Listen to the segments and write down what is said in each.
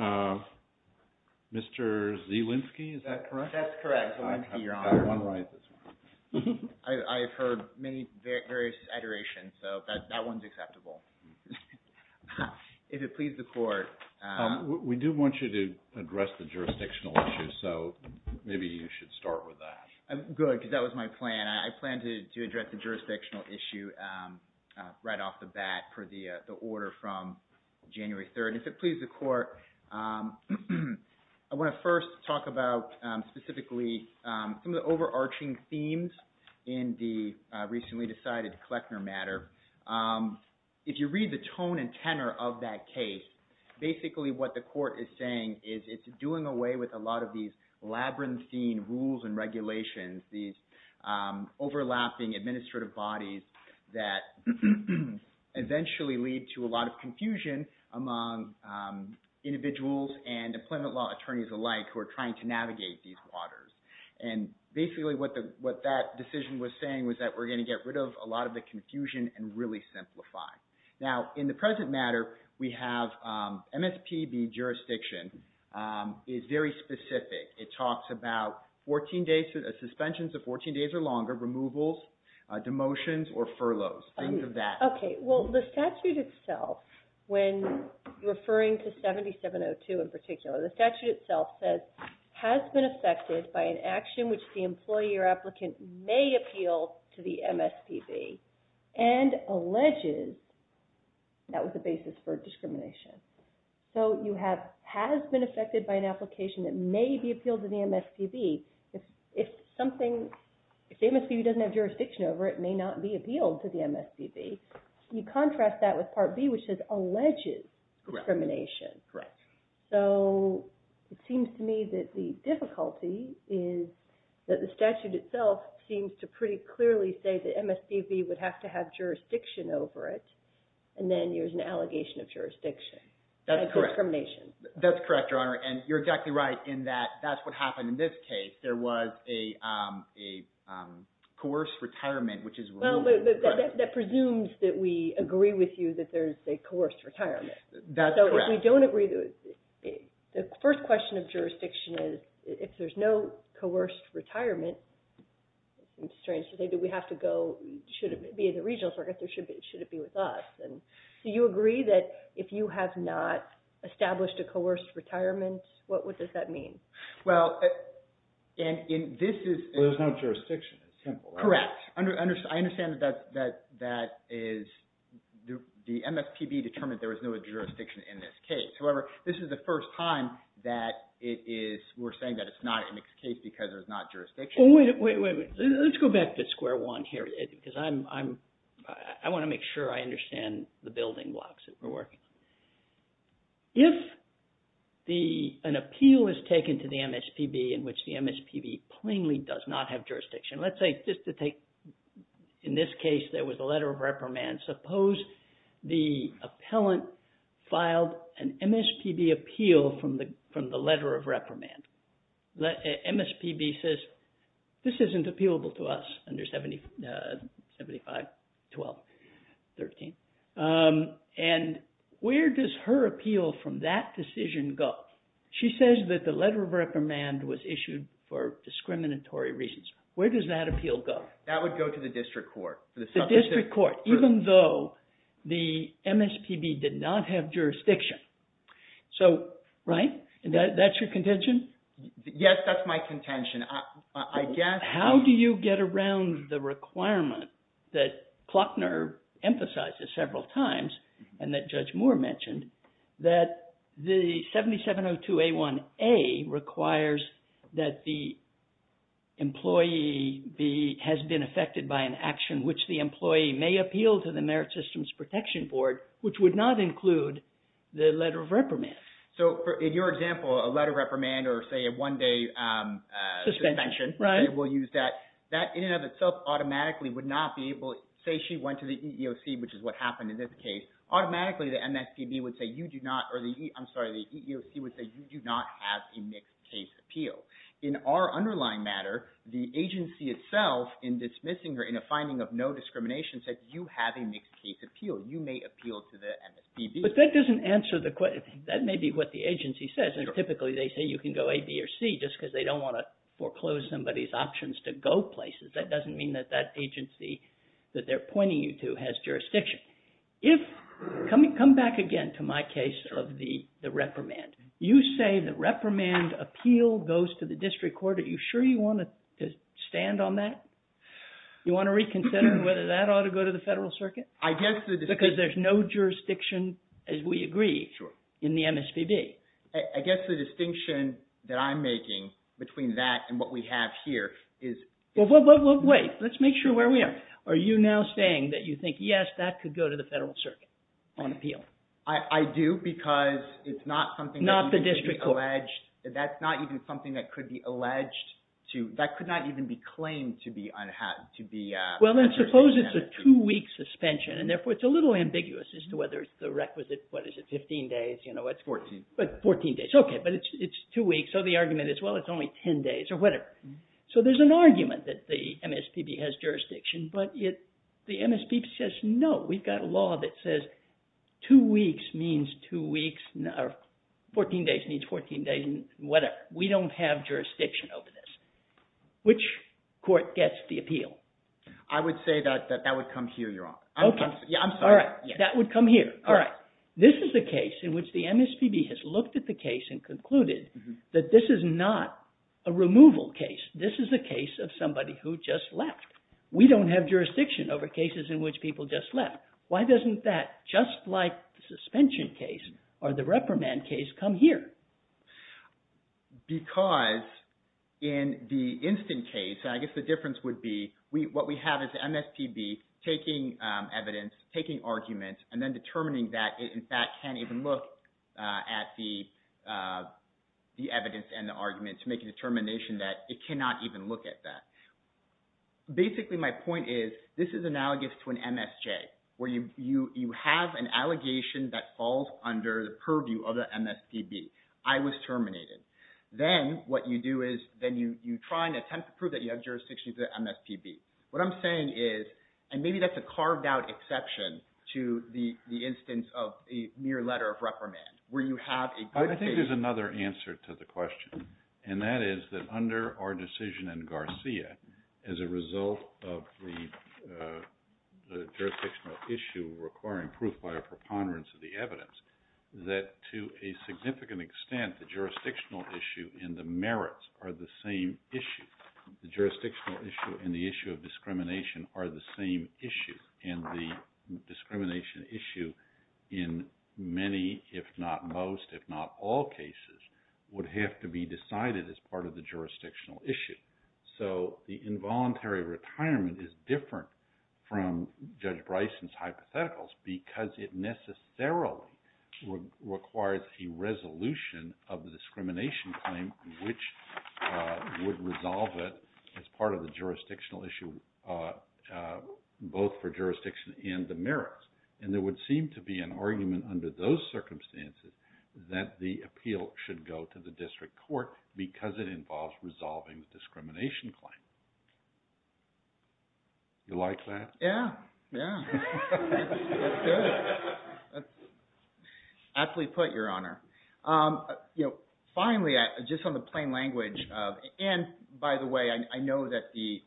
Mr. Zelensky, is that correct? That's correct, Your Honor. I have one right this morning. I've heard many various iterations, so that one's acceptable. If it pleases the Court... We do want you to address the jurisdictional issue, so maybe you should start with that. Good, because that was my plan. I planned to address the jurisdictional issue right off the bat for the order from January 3rd. If it pleases the Court, I want to first talk about specifically some of the overarching themes in the recently decided Kleckner matter. If you read the tone and tenor of that case, basically what the Court is saying is it's doing away with a lot of these labyrinthine rules and regulations, these overlapping administrative bodies that eventually lead to a lot of confusion among individuals and employment law attorneys alike who are trying to navigate these waters. Basically, what that decision was saying was that we're going to get rid of a lot of the confusion and really simplify. Now, in the present matter, we have MSPB jurisdiction is very specific. It talks about suspensions of 14 days or longer, removals, demotions, or furloughs. Think of that. Okay. Well, the statute itself, when referring to 7702 in particular, the statute itself says, has been affected by an action which the employee or applicant may appeal to the MSPB and alleges that was the basis for discrimination. So, you have, has been affected by an application that may be appealed to the MSPB. If something, if the MSPB doesn't have jurisdiction over it, it may not be appealed to the MSPB. You contrast that with Part B, which says, alleges discrimination. So, it seems to me that the difficulty is that the statute itself seems to pretty clearly say that MSPB would have to have jurisdiction over it, and then there's an allegation of jurisdiction. That's discrimination. That's correct, Your Honor, and you're exactly right in that that's what happened in this case. There was a coerced retirement, which is removed from the statute. Well, but that presumes that we agree with you that there's a coerced retirement. That's correct. So, if we don't agree, the first question of jurisdiction is, if there's no coerced retirement, it's strange to say that we have to go, should it be in the regional circuit, or should it be with us? So, you agree that if you have not established a coerced retirement, what does that mean? Well, and this is... There's no jurisdiction. It's simple, right? Correct. I understand that that is, the MSPB determined there was no jurisdiction in this case. However, this is the first time that it is, we're saying that it's not in its case because there's not jurisdiction. Well, wait, wait, wait. Let's go back to square one here, because I want to make sure I understand the building blocks that we're working. If an appeal is taken to the MSPB in which the MSPB plainly does not have jurisdiction, let's say just to take, in this case, there was a letter of reprimand. Suppose the appellant filed an MSPB appeal from the letter of reprimand. MSPB says, this isn't appealable to us under 75-12-13. And where does her appeal from that decision go? She says that the letter of reprimand was issued for discriminatory reasons. Where does that appeal go? That would go to the district court. The district court, even though the MSPB did not have jurisdiction. So, right? That's your contention? Yes, that's my contention. I guess... How do you get around the requirement that Klockner emphasizes several times, and that Judge Moore mentioned, that the 7702A1A requires that the employee has been affected by an action which the employee may appeal to the Merit Systems Protection Board, which would not include the letter of reprimand? So, in your example, a letter of reprimand or, say, a one-day suspension, we'll use that. That, in and of itself, automatically would not be able... Say she went to the EEOC, which is what happened in this case, automatically the EEOC would say, you do not have a mixed case appeal. In our underlying matter, the agency itself, in dismissing her in a finding of no discrimination, said, you have a mixed case appeal. You may appeal to the MSPB. But that doesn't answer the question. That may be what the agency says, and typically they say you can go A, B, or C, just because they don't want to foreclose somebody's options to go places. That doesn't mean that that agency that they're pointing you to has jurisdiction. If... Come back again to my case of the reprimand. You say the reprimand appeal goes to the District Court. Are you sure you want to stand on that? You want to reconsider whether that ought to go to the Federal Circuit? I guess the... As we agree... Sure. ...in the MSPB. I guess the distinction that I'm making between that and what we have here is... Well, wait. Let's make sure where we are. Are you now saying that you think, yes, that could go to the Federal Circuit on appeal? I do because it's not something... Not the District Court. ...that could be alleged. That's not even something that could be alleged to... That could not even be claimed to be... Well, then suppose it's a two-week suspension, and therefore it's a little ambiguous as to whether the requisite... What is it? Fifteen days? You know, it's... Fourteen. Fourteen days. Okay. But it's two weeks, so the argument is, well, it's only ten days or whatever. So there's an argument that the MSPB has jurisdiction, but the MSPB says, no, we've got a law that says two weeks means two weeks... Fourteen days means fourteen days and whatever. We don't have jurisdiction over this. Which court gets the appeal? I would say that that would come here, Your Honor. Okay. Yeah, I'm sorry. All right. That would come here. All right. This is a case in which the MSPB has looked at the case and concluded that this is not a removal case. This is a case of somebody who just left. We don't have jurisdiction over cases in which people just left. Why doesn't that, just like the suspension case or the reprimand case, come here? Because in the instant case, I guess the difference would be what we have is the MSPB taking evidence, taking arguments, and then determining that it, in fact, can't even look at the evidence and the arguments to make a determination that it cannot even look at that. Basically, my point is this is analogous to an MSJ, where you have an allegation that falls under the purview of the MSPB. I was terminated. Then what you do is then you try and attempt to prove that you have jurisdiction to the MSPB. What I'm saying is, and maybe that's a carved out exception to the instance of a mere letter of reprimand, where you have a good case. I think there's another answer to the question. That is that under our decision in Garcia, as a result of the jurisdictional issue requiring proof by a preponderance of the evidence, that to a significant extent, the jurisdictional issue and the merits are the same issue. The jurisdictional issue and the issue of discrimination are the same issue. The discrimination issue in many, if not most, if not all cases, would have to be decided as part of the jurisdictional issue. The involuntary retirement is different from Judge Bryson's hypotheticals because it necessarily requires a resolution of the discrimination claim, which would resolve it as part of the jurisdictional issue, both for jurisdiction and the merits. There would seem to be an argument under those circumstances that the appeal should go to the district court because it involves resolving the discrimination claim. You like that? Yeah, yeah. That's good. Absolutely put, Your Honor. Finally, just on the plain language, and by the way, I know that the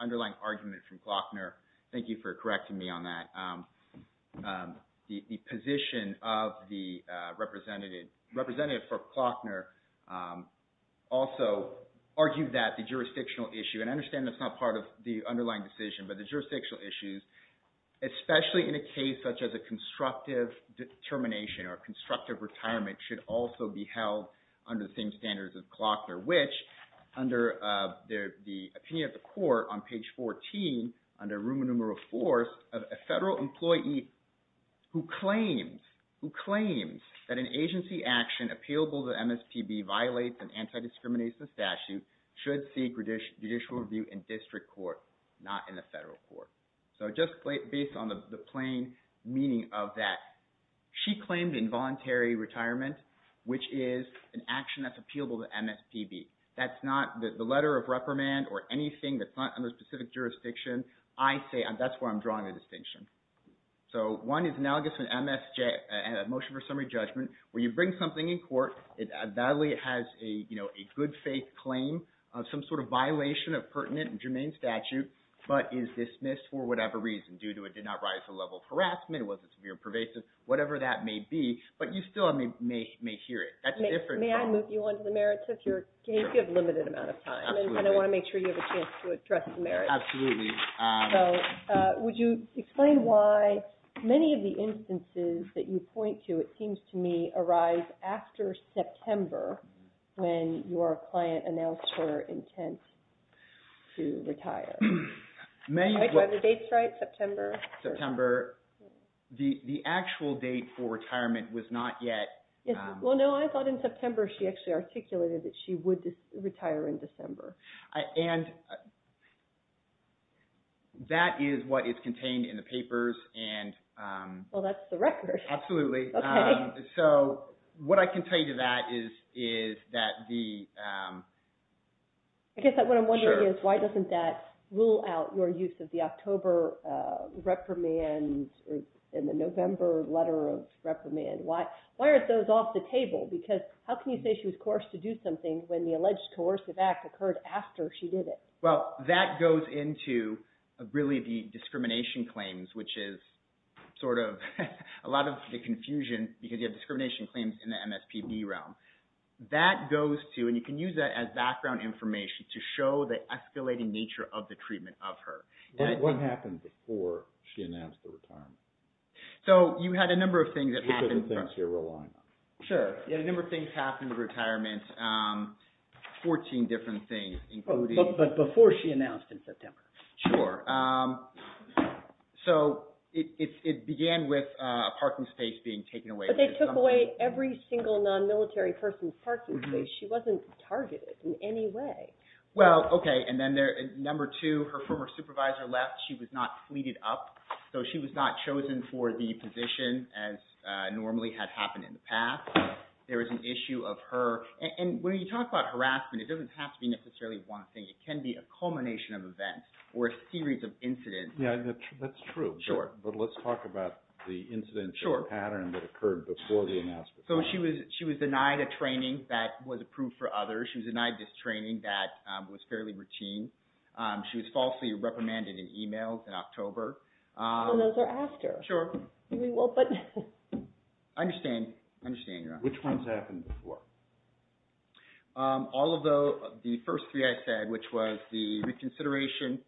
underlying argument from Klockner, thank you for correcting me on that, the position of the representative for Klockner also argued that the jurisdictional issue, and I understand that's not part of the underlying decision, but the jurisdictional issues, especially in a case such as a constructive determination or constructive retirement, should also be held under the same standards as Klockner, which, under the opinion of the court on page 14, under room and room of force, a federal employee who claims that an agency action appealable to MSPB violates an judicial review in district court, not in the federal court. So just based on the plain meaning of that, she claimed involuntary retirement, which is an action that's appealable to MSPB. That's not the letter of reprimand or anything that's not under specific jurisdiction. I say that's where I'm drawing the distinction. So one is analogous to an MSJ, a motion for summary judgment, where you bring something in court, it has a good faith claim, some sort of violation of pertinent and germane statute, but is dismissed for whatever reason, due to it did not rise to the level of harassment, it wasn't severe and pervasive, whatever that may be, but you still may hear it. That's different. May I move you on to the merits of your case? You have a limited amount of time, and I want to make sure you have a chance to address the merits. Absolutely. So, would you explain why many of the instances that you point to, it seems to me, arise after September, when your client announced her intent to retire. Do I have the dates right? September? September. The actual date for retirement was not yet... Well, no, I thought in September she actually articulated that she would retire in December. And that is what is contained in the papers, and... Well, that's the record. Absolutely. Okay. So, what I can tell you to that is that the... I guess what I'm wondering is, why doesn't that rule out your use of the October reprimand in the November letter of reprimand? Why are those off the table? Because, how can you say she was coerced to do something when the alleged coercive act occurred after she did it? Well, that goes into really the discrimination claims, which is sort of a lot of the confusion, because you have discrimination claims in the MSPB realm. That goes to, and you can use that as background information to show the escalating nature of the treatment of her. What happened before she announced the retirement? So, you had a number of things that happened... Sure. You had a number of things happen with retirement, 14 different things, including... But before she announced in September. Sure. So, it began with a parking space being taken away. But they took away every single non-military person's parking space. She wasn't targeted in any way. Well, okay, and then number two, her former supervisor left. She was not fleeted up, so she was not chosen for the position as normally had happened in the past. There was an issue of her, and when you talk about harassment, it doesn't have to be necessarily one thing. It can be a culmination of events or a series of incidents. Yeah, that's true. Sure. But let's talk about the incidental pattern that occurred before the announcement. So, she was denied a training that was approved for others. She was denied this training that was fairly routine. She was falsely reprimanded in emails in October. And those are after. Sure. I understand. I understand, yeah. Which ones happened before? All of the first three I said, which was the reconsideration.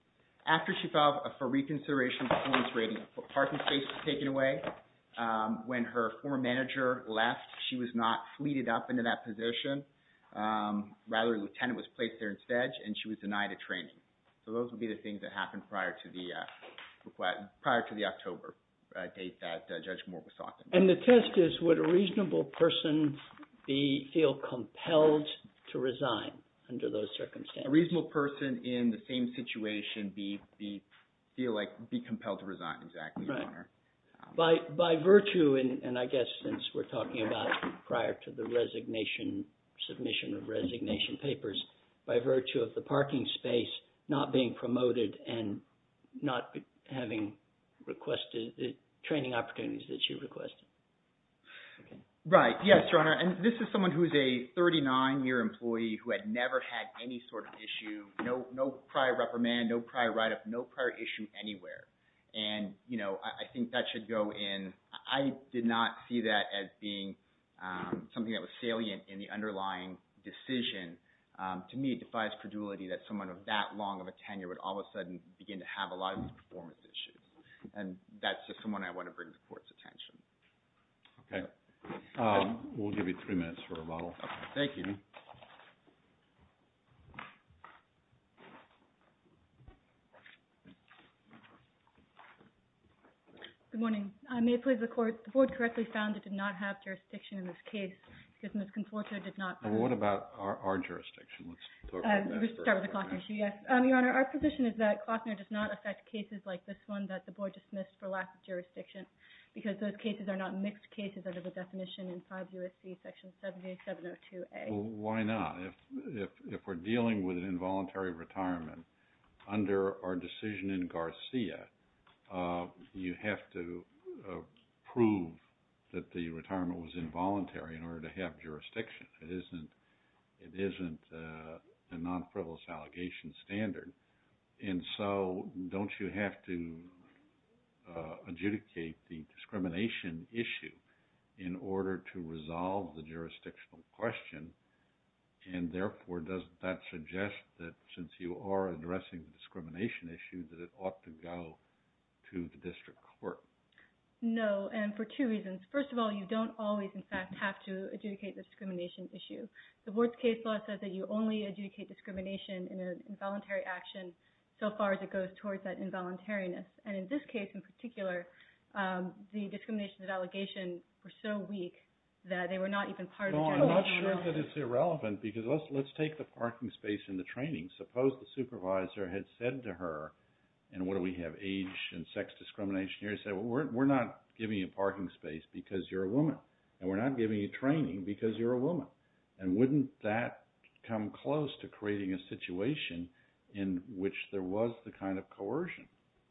After she filed for reconsideration, the parking space was taken away. When her former manager left, she was not fleeted up into that position. Rather, a lieutenant was placed there instead, and she was denied a training. So, those would be the things that happened prior to the October date that Judge Moore was talking about. And the test is, would a reasonable person feel compelled to resign under those circumstances? A reasonable person in the same situation feel compelled to resign, exactly, Your Honor. Right. By virtue, and I guess since we're talking about prior to the resignation, submission of resignation papers, by virtue of the parking space not being promoted and not having requested the training opportunities that you requested. Right. Yes, Your Honor. And this is someone who is a 39-year employee who had never had any sort of issue, no prior reprimand, no prior write-up, no prior issue anywhere. And, you know, I think that should go in. I did not see that as being something that was salient in the underlying decision. To me, it defies credulity that someone of that long of a tenure would all of a sudden begin to have a lot of performance issues. And that's just someone I want to bring to the Court's attention. Okay. We'll give you three minutes for rebuttal. Okay. Thank you. Ms. Conforto. Good morning. May it please the Court. The Board correctly found it did not have jurisdiction in this case. Excuse me. Ms. Conforto did not. Well, what about our jurisdiction? Let's talk about that first. Let's start with the Klockner issue. Yes. Your Honor, our position is that Klockner does not affect cases like this one that the Board dismissed for lack of jurisdiction because those cases are not mixed cases under the definition in 5 U.S.C. Section 70702A. Well, why not? If we're dealing with an involuntary retirement under our decision in Garcia, you have to prove that the retirement was involuntary in order to have jurisdiction. It isn't a non-frivolous allegation standard. And so don't you have to adjudicate the discrimination issue in order to resolve the jurisdictional question? And therefore, doesn't that suggest that since you are addressing the discrimination issue, that it ought to go to the District Court? No. And for two reasons. First of all, you don't always, in fact, have to adjudicate the discrimination issue. The Board's case law says that you only adjudicate discrimination in an involuntary action so far as it goes towards that involuntariness. And in this case, in particular, the discriminations of allegation were so weak that they were not even part of the general rule. And so, I think that's a good point. I mean, I'm not sure that it's irrelevant because let's take the parking space in the training. Suppose the supervisor had said to her, and what do we have, age and sex discrimination here? He said, well, we're not giving you parking space because you're a woman. And we're not giving you training because you're a woman. And wouldn't that come close to creating a situation in which there was the kind of coercion?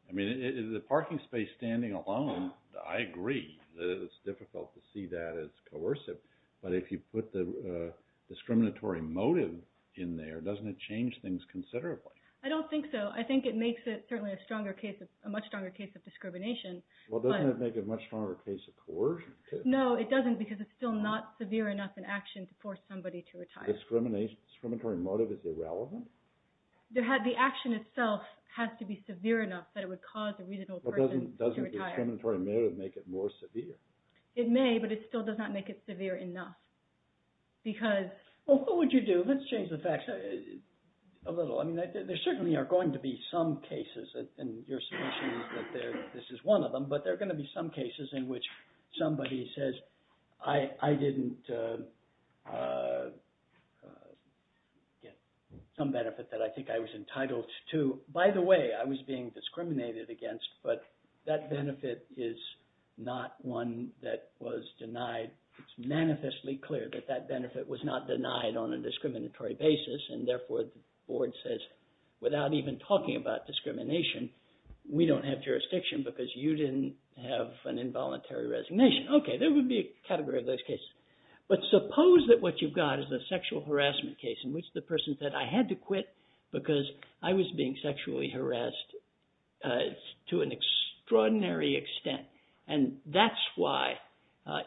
I mean, is the parking space standing alone? I agree that it's difficult to see that as coercive. But if you put the discriminatory motive in there, doesn't it change things considerably? I don't think so. I think it makes it certainly a stronger case, a much stronger case of discrimination. Well, doesn't it make it a much stronger case of coercion, too? No, it doesn't because it's still not severe enough in action to force somebody to retire. The discriminatory motive is irrelevant? The action itself has to be severe enough that it would cause a reasonable person to retire. But doesn't the discriminatory motive make it more severe? It may, but it still does not make it severe enough. Well, what would you do? Let's change the facts a little. I mean, there certainly are going to be some cases and your suggestion is that this is one of them, but there are going to be some cases in which somebody says, I didn't get some benefit that I think I was entitled to. By the way, I was being discriminated against, but that benefit is not one that was denied. It's manifestly clear that that benefit was not denied on a discriminatory basis, and therefore the board says, without even talking about discrimination, we don't have jurisdiction because you didn't have an involuntary resignation. Okay, there would be a category of those cases. But suppose that what you've got is a sexual harassment case in which the person said, I had to quit because I was being sexually harassed to an extraordinary extent. And that's why,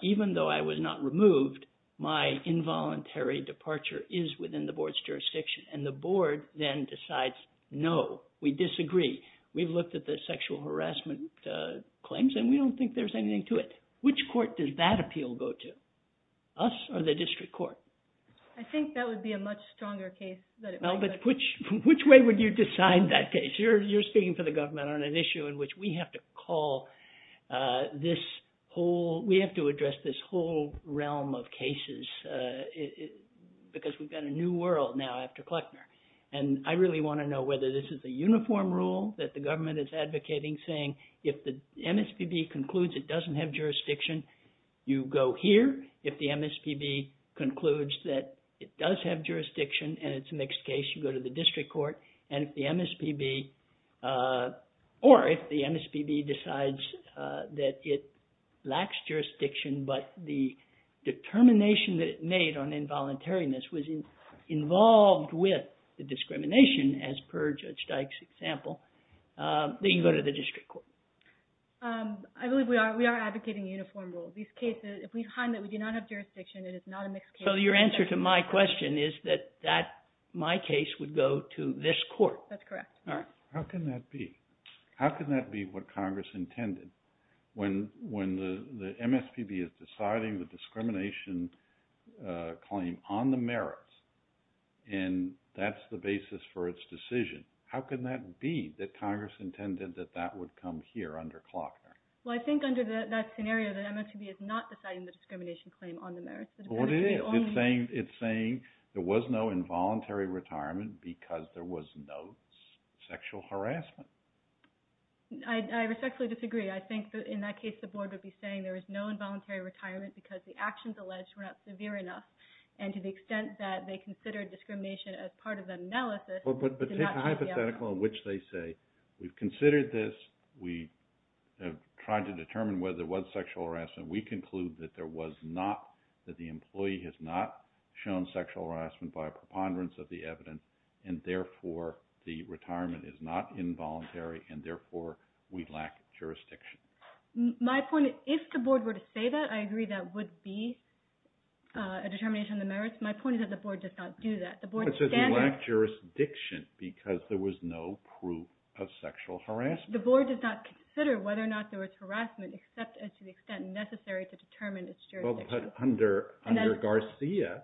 even though I was not removed, my involuntary departure is within the board's jurisdiction. And the board then decides, no, we disagree. We've looked at the sexual harassment claims and we don't think there's anything to it. Which court does that appeal go to? Us or the district court? I think that would be a much stronger case that it was. Which way would you decide that case? You're speaking for the government on an issue in which we have to address this whole realm of cases because we've got a new world now after Kleckner. And I really want to know whether this is a uniform rule that the government is advocating, saying if the MSPB concludes it doesn't have jurisdiction, you go here. If the MSPB concludes that it does have jurisdiction and it's a mixed case, you go to the district court. And if the MSPB, or if the MSPB decides that it lacks jurisdiction but the determination that it made on involuntariness was involved with the discrimination, as per Judge Dyke's example, then you go to the district court. I believe we are advocating a uniform rule. These cases, if we find that we do not have jurisdiction, it is not a mixed case. So your answer to my question is that my case would go to this court? That's correct. How can that be? How can that be what Congress intended? When the MSPB is deciding the discrimination claim on the merits and that's the basis for its decision, how can that be that Congress intended that that would come here under Kleckner? Well, I think under that scenario, the MSPB is not deciding the discrimination claim on the merits. Well, it is. It's saying there was no involuntary retirement because there was no sexual harassment. I respectfully disagree. I think that in that case, the board would be saying there was no involuntary retirement because the actions alleged were not severe enough. And to the extent that they considered discrimination as part of the analysis, it did not. But take a hypothetical in which they say, we've considered this, we have tried to determine whether there was sexual harassment. We conclude that there was not, that the employee has not shown sexual harassment by a preponderance of the evidence, and therefore, the retirement is not involuntary, and therefore, we lack jurisdiction. My point is, if the board were to say that, I agree that would be a determination of the merits. My point is that the board does not do that. The board stands— It says we lack jurisdiction because there was no proof of sexual harassment. The board does not consider whether or not there was harassment, except as to the extent necessary to determine its jurisdiction. Well, but under Garcia,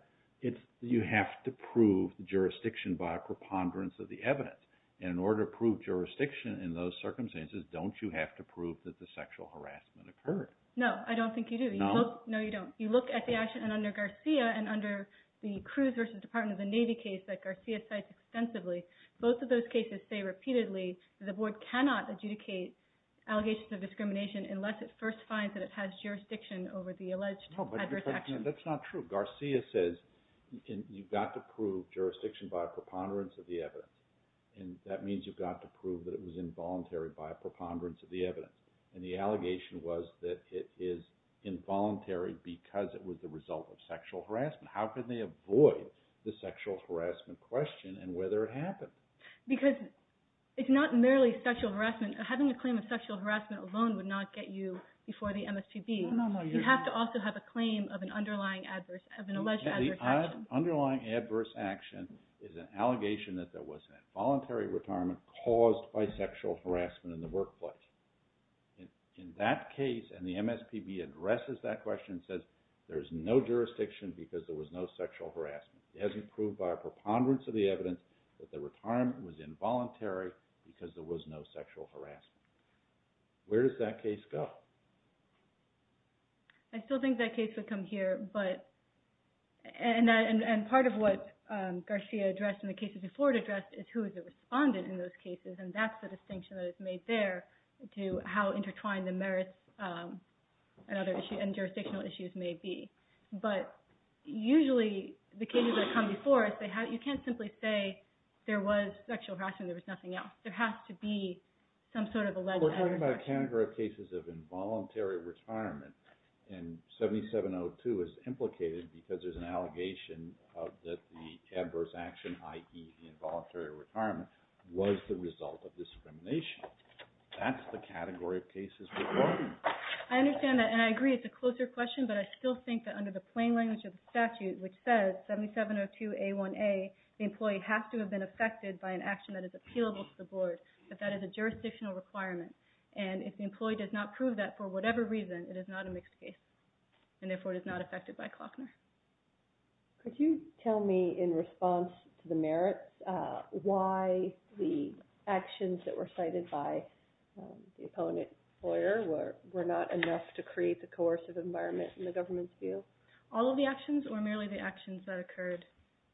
you have to prove jurisdiction by a preponderance of the evidence. In order to prove jurisdiction in those circumstances, don't you have to prove that the sexual harassment occurred? No, I don't think you do. No? No, you don't. You look at the action, and under Garcia, and under the Cruise v. Department of the Navy case that Garcia cites extensively, both of those cases say repeatedly that the board cannot adjudicate allegations of discrimination unless it first finds that it has jurisdiction over the alleged adverse action. No, but that's not true. Garcia says you've got to prove jurisdiction by a preponderance of the evidence, and that means you've got to prove that it was involuntary by a preponderance of the evidence, and the allegation was that it is involuntary because it was the result of sexual harassment. How can they avoid the sexual harassment question and whether it happened? Because it's not merely sexual harassment. Having a claim of sexual harassment alone would not get you before the MSPB. You have to also have a claim of an alleged adverse action. The underlying adverse action is an allegation that there was involuntary retirement caused by sexual harassment in the workplace. In that case, and the MSPB addresses that question and says there's no jurisdiction because there was no sexual harassment. It hasn't proved by a preponderance of the evidence that the retirement was involuntary because there was no sexual harassment. Where does that case go? I still think that case would come here, and part of what Garcia addressed in the cases before it addressed is who is the respondent in those cases, and that's the distinction that is made there to how intertwined the merits and jurisdictional issues may be. But usually the cases that come before us, you can't simply say there was sexual harassment and there was nothing else. There has to be some sort of alleged adverse action. We're talking about a category of cases of involuntary retirement, and 7702 is implicated because there's an allegation that the adverse action, i.e. involuntary retirement, was the result of discrimination. That's the category of cases we're talking about. I understand that, and I agree it's a closer question, but I still think that under the plain language of the statute, which says 7702A1A, the employee has to have been affected by an action that is appealable to the board, that that is a jurisdictional requirement, and if the employee does not prove that for whatever reason, it is not a mixed case, and therefore it is not affected by Klockner. Could you tell me, in response to the merits, why the actions that were cited by the opponent lawyer were not enough to create the coercive environment in the government's view? All of the actions, or merely the actions that occurred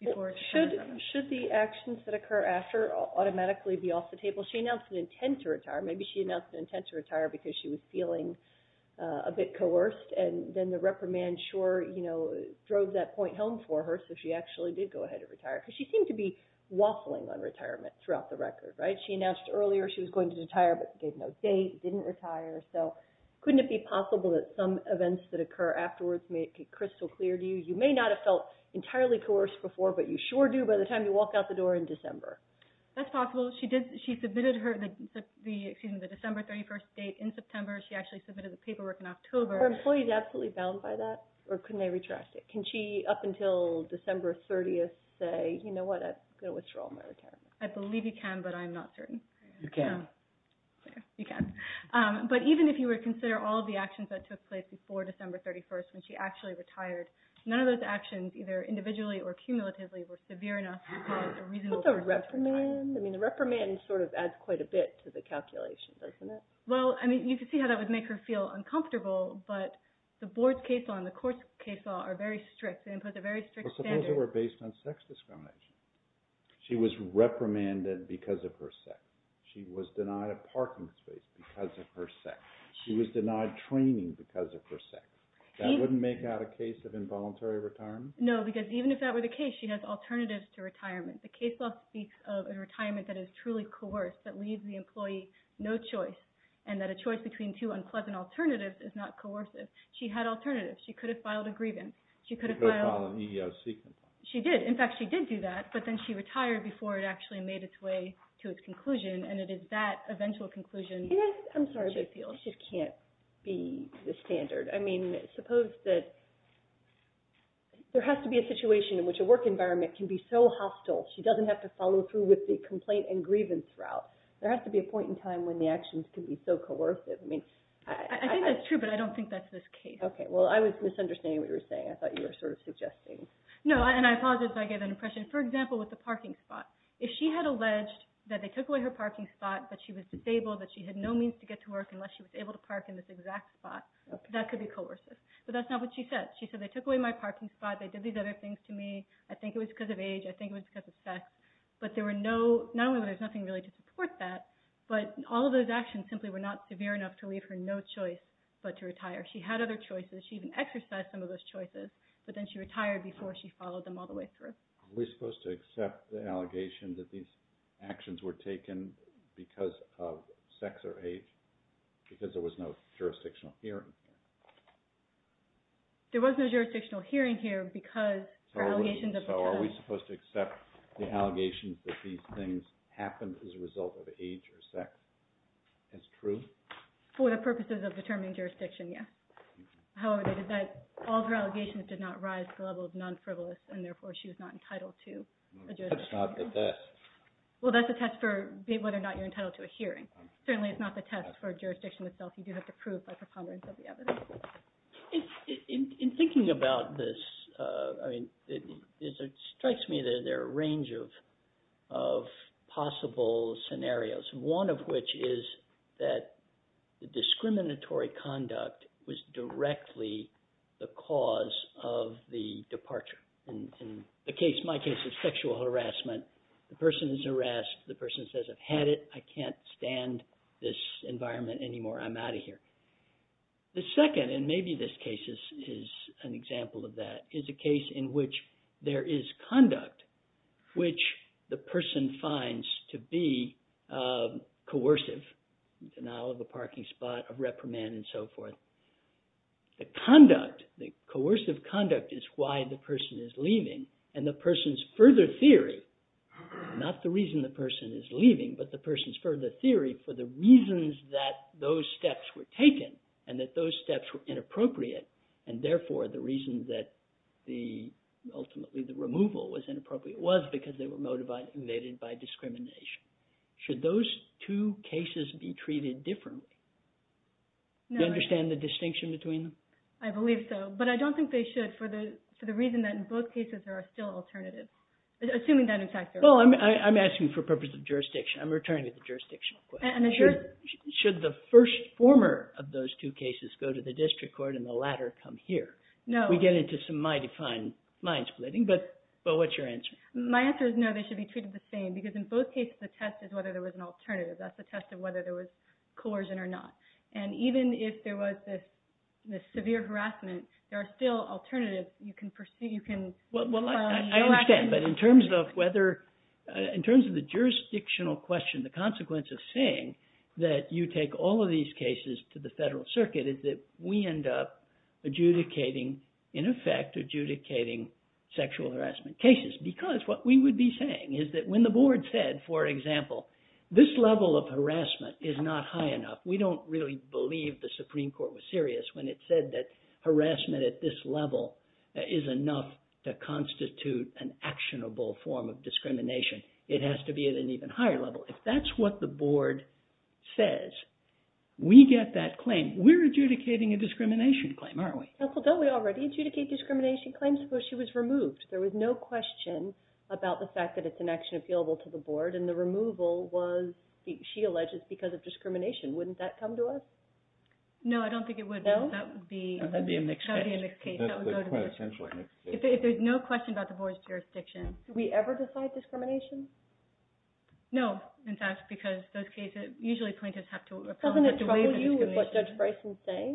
before? Should the actions that occur after automatically be off the table? She announced an intent to retire. Maybe she announced an intent to retire because she was feeling a bit coerced, and then the reprimand sure drove that point home for her, so she actually did go ahead and retire, because she seemed to be waffling on retirement throughout the record. She announced earlier she was going to retire, but gave no date, didn't retire, so couldn't it be possible that some events that occur afterwards may be crystal clear to you? You may not have felt entirely coerced before, but you sure do by the time you walk out the door in December. That's possible. She submitted the December 31st date in September. She actually submitted the paperwork in October. Are employees absolutely bound by that, or couldn't they retract it? Can she, up until December 30th, say, you know what, I'm going to withdraw my retirement? I believe you can, but I'm not certain. You can. You can. But even if you were to consider all of the actions that took place before December 31st when she actually retired, none of those actions, either individually or cumulatively, were severe enough to be a reasonable reason to retire. What about the reprimand? I mean, the reprimand sort of adds quite a bit to the calculation, doesn't it? Well, I mean, you could see how that would make her feel uncomfortable, but the board's case law and the court's case law are very strict. They impose a very strict standard. But suppose it were based on sex discrimination? She was reprimanded because of her sex. She was denied a parking space because of her sex. She was denied training because of her sex. That wouldn't make out a case of involuntary retirement? No, because even if that were the case, she has alternatives to retirement. The case law speaks of a retirement that is truly coerced, that leaves the employee no choice, and that a choice between two unpleasant alternatives is not coercive. She had alternatives. She could have filed a grievance. She could have filed an EEOC complaint. She did. In fact, she did do that, but then she retired before it actually made its way to its conclusion, and it is that eventual conclusion that she feels. I'm sorry, but this just can't be the standard. I mean, suppose that there has to be a situation in which a work environment can be so hostile she doesn't have to follow through with the complaint and grievance route. There has to be a point in time when the actions can be so coercive. I think that's true, but I don't think that's the case. Okay, well, I was misunderstanding what you were saying. I thought you were sort of suggesting... No, and I apologize if I gave an impression. For example, with the parking spot. If she had alleged that they took away her parking spot but she was disabled, that she had no means to get to work unless she was able to park in this exact spot, that could be coercive. But that's not what she said. She said, they took away my parking spot. They did these other things to me. I think it was because of age. I think it was because of sex. But there were no... Not only was there nothing really to support that, but all of those actions simply were not severe enough to leave her no choice but to retire. She had other choices. She even exercised some of those choices, but then she retired before she followed them all the way through. Are we supposed to accept the allegation that these actions were taken because of sex or age because there was no jurisdictional hearing? There was no jurisdictional hearing here because... So are we supposed to accept the allegation that these things happened as a result of age or sex? That's true? For the purposes of determining jurisdiction, yes. However, all her allegations did not rise to the level of non-frivolous and therefore she was not entitled to... That's not the test. Well, that's a test for whether or not you're entitled to a hearing. Certainly it's not the test for jurisdiction itself. You do have to prove by preponderance of the evidence. In thinking about this, it strikes me that there are a range of possible scenarios, one of which is that the discriminatory conduct was directly the cause of the departure. In my case, it's sexual harassment. The person is harassed. The person says, I've had it. I can't stand this environment anymore. I'm out of here. The second, and maybe this case is an example of that, is a case in which there is conduct which the person finds to be coercive, the denial of a parking spot, a reprimand and so forth. The conduct, the coercive conduct, is why the person is leaving and the person's further theory, not the reason the person is leaving, but the person's further theory for the reasons that those steps were taken and that those steps were inappropriate and therefore the reason that the, ultimately the removal was inappropriate was because they were motivated by discrimination. Should those two cases be treated differently? Do you understand the distinction between them? I believe so, but I don't think they should for the reason that in both cases there are still alternatives, assuming that in fact there are. Well, I'm asking for purposes of jurisdiction. I'm returning to the jurisdictional question. Should the first former of those two cases go to the district court and the latter come here? No. We get into some mighty fine mind splitting, but what's your answer? My answer is no, they should be treated the same because in both cases the test is whether there was an alternative. That's the test of whether there was coercion or not. And even if there was this severe harassment, there are still alternatives. You can pursue, you can... Well, I understand, but in terms of whether, in terms of the jurisdictional question, the consequence of saying that you take all of these cases to the federal circuit is that we end up adjudicating, in effect, adjudicating sexual harassment cases because what we would be saying is that when the board said, for example, this level of harassment is not high enough. We don't really believe the Supreme Court was serious when it said that harassment at this level is enough to constitute an actionable form of discrimination. It has to be at an even higher level. If that's what the board says, we get that claim. We're adjudicating a discrimination claim, aren't we? Counsel, don't we already adjudicate discrimination claims before she was removed? There was no question about the fact that it's an action appealable to the board and the removal was, she alleges, because of discrimination. Wouldn't that come to us? No, I don't think it would. No? That would be a mixed case. That would be a mixed case. That's quite essentially a mixed case. If there's no question about the board's jurisdiction. Do we ever decide discrimination? No, in fact, because those cases, usually plaintiffs have to apologize for the way the discrimination... Doesn't it trouble you with what Judge Bryson's saying?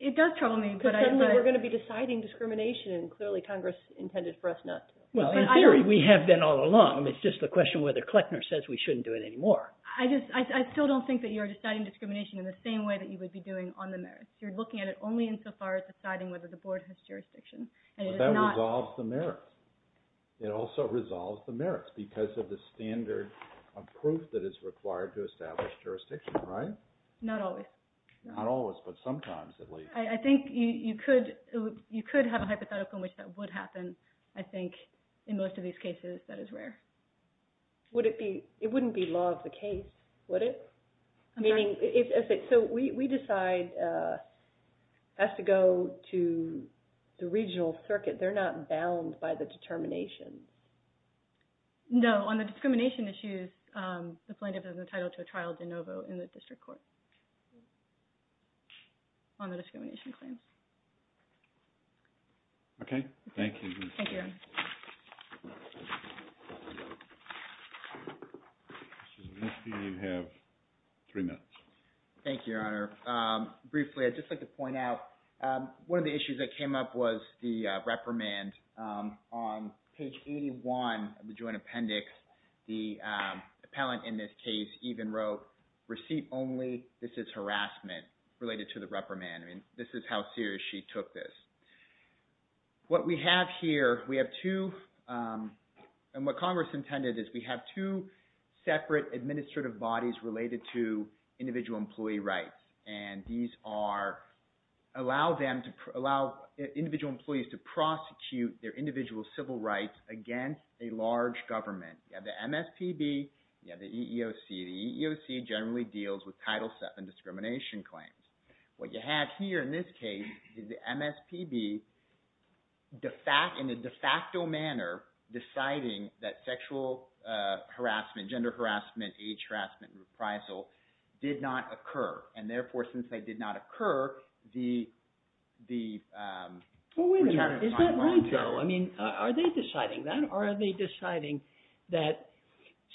It does trouble me, but I... Because suddenly we're going to be deciding discrimination and clearly Congress intended for us not to. Well, in theory, we have been all along. It's just the question whether Kleckner says we shouldn't do it anymore. I just... I still don't think that you're deciding discrimination in the same way that you would be doing on the merits. You're looking at it only insofar as deciding whether the board has jurisdiction and it's not... But that resolves the merits. It also resolves the merits because of the standard of proof that is required to establish jurisdiction, right? Not always. Not always, but sometimes at least. I think you could... you could have a hypothetical in which that would happen and I think in most of these cases that is rare. Would it be... It wouldn't be law of the case, would it? Meaning... So we decide as to go to the regional circuit, they're not bound by the determination? No. on the discrimination claims. Okay. Thank you. Thank you. Thank you. Thank you. Thank you. Thank you. Thank you. Thank you. Thank you. Thank you. You have three minutes. Thank you, Your Honor. Briefly, I'd just like to point out one of the issues that came up was the reprimand on page 81 of the joint appendix. The appellant in this case even wrote this is harassment related to the reprimand. I mean, this is how serious she took this. What we have here is the Here, we have two and what Congress intended is we have two separate administrative bodies related to individual employee rights. And these are allow them to allow individual employees to prosecute their individual civil rights against a large government. You have the MSPB, The EEOC generally deals with Title VII discrimination claims. What you have here in this case is the MSPB de facto in its own case in a de facto manner deciding that sexual harassment gender harassment age harassment and reprisal did not occur. And therefore since they did not occur the Well wait a minute, is that right though? I mean, are they deciding that? Or are they deciding that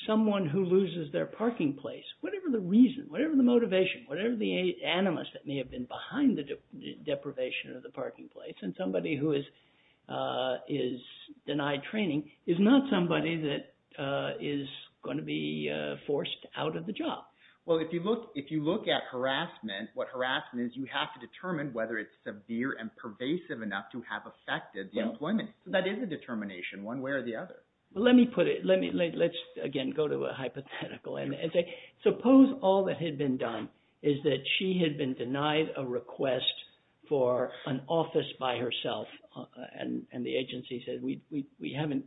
someone who loses their parking place whatever the reason whatever the motivation whatever the animus that may have been behind the deprivation of the parking place and somebody who is is denied training is not somebody is going to be forced out of the job. Well, if you look if you look at harassment what harassment is you have to determine whether it's severe and pervasive enough to have affected the employment. That is a determination one way or the other. Let me put it let me let's again go to a hypothetical and say suppose all that had been done is that she had been denied a request for an office by herself and and the agency said we we haven't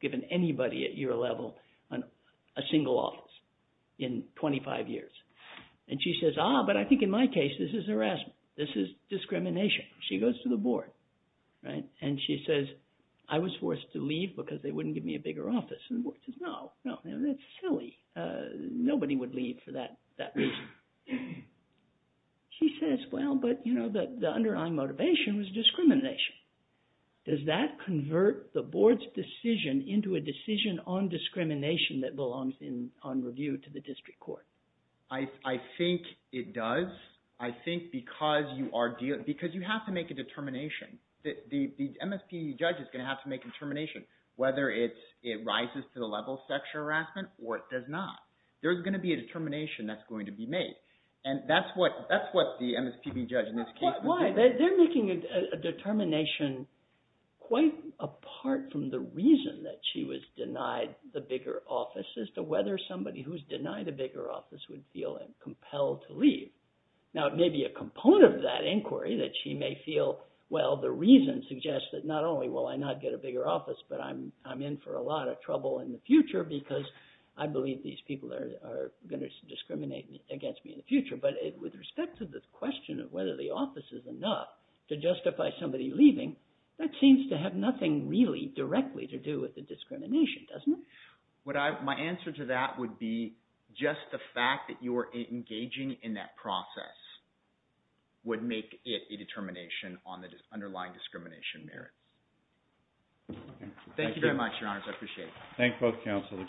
given anybody at your level a single office in 25 years. And she says ah but I think in my case this is harassment this is discrimination. She goes to the board right and she says I was forced to leave because they wouldn't give me a bigger office and the board says no no that's silly nobody would leave for that that reason. She says well but you know the underlying motivation was discrimination. Does that convert the board's decision into a decision on discrimination that belongs on review to the district court? I think it does I think because you are dealing because you have to make a determination the MSPB judge is going to have to make a determination whether it rises to the level of sexual harassment or it does not. There's going to be a determination that's going to be made and that's what the MSPB judge in this case was doing. Why? They're making a determination quite apart from the reason that she was denied the bigger office as to whether somebody who's denied a bigger office would feel compelled to leave. Now it may be a component of that inquiry that she may feel well the reason suggests that not only will I not get a bigger office but I'm in for a lot of trouble in the future because I believe these people are going to discriminate against me in the future but with respect to the question of whether the office is enough to justify somebody leaving that seems to have nothing really directly to do with the discrimination doesn't it? My answer to that would be just the fact that you're engaging in that process would make it a determination on the underlying discrimination merits. Thank you very much your honors. I appreciate it. Thank you both counsel.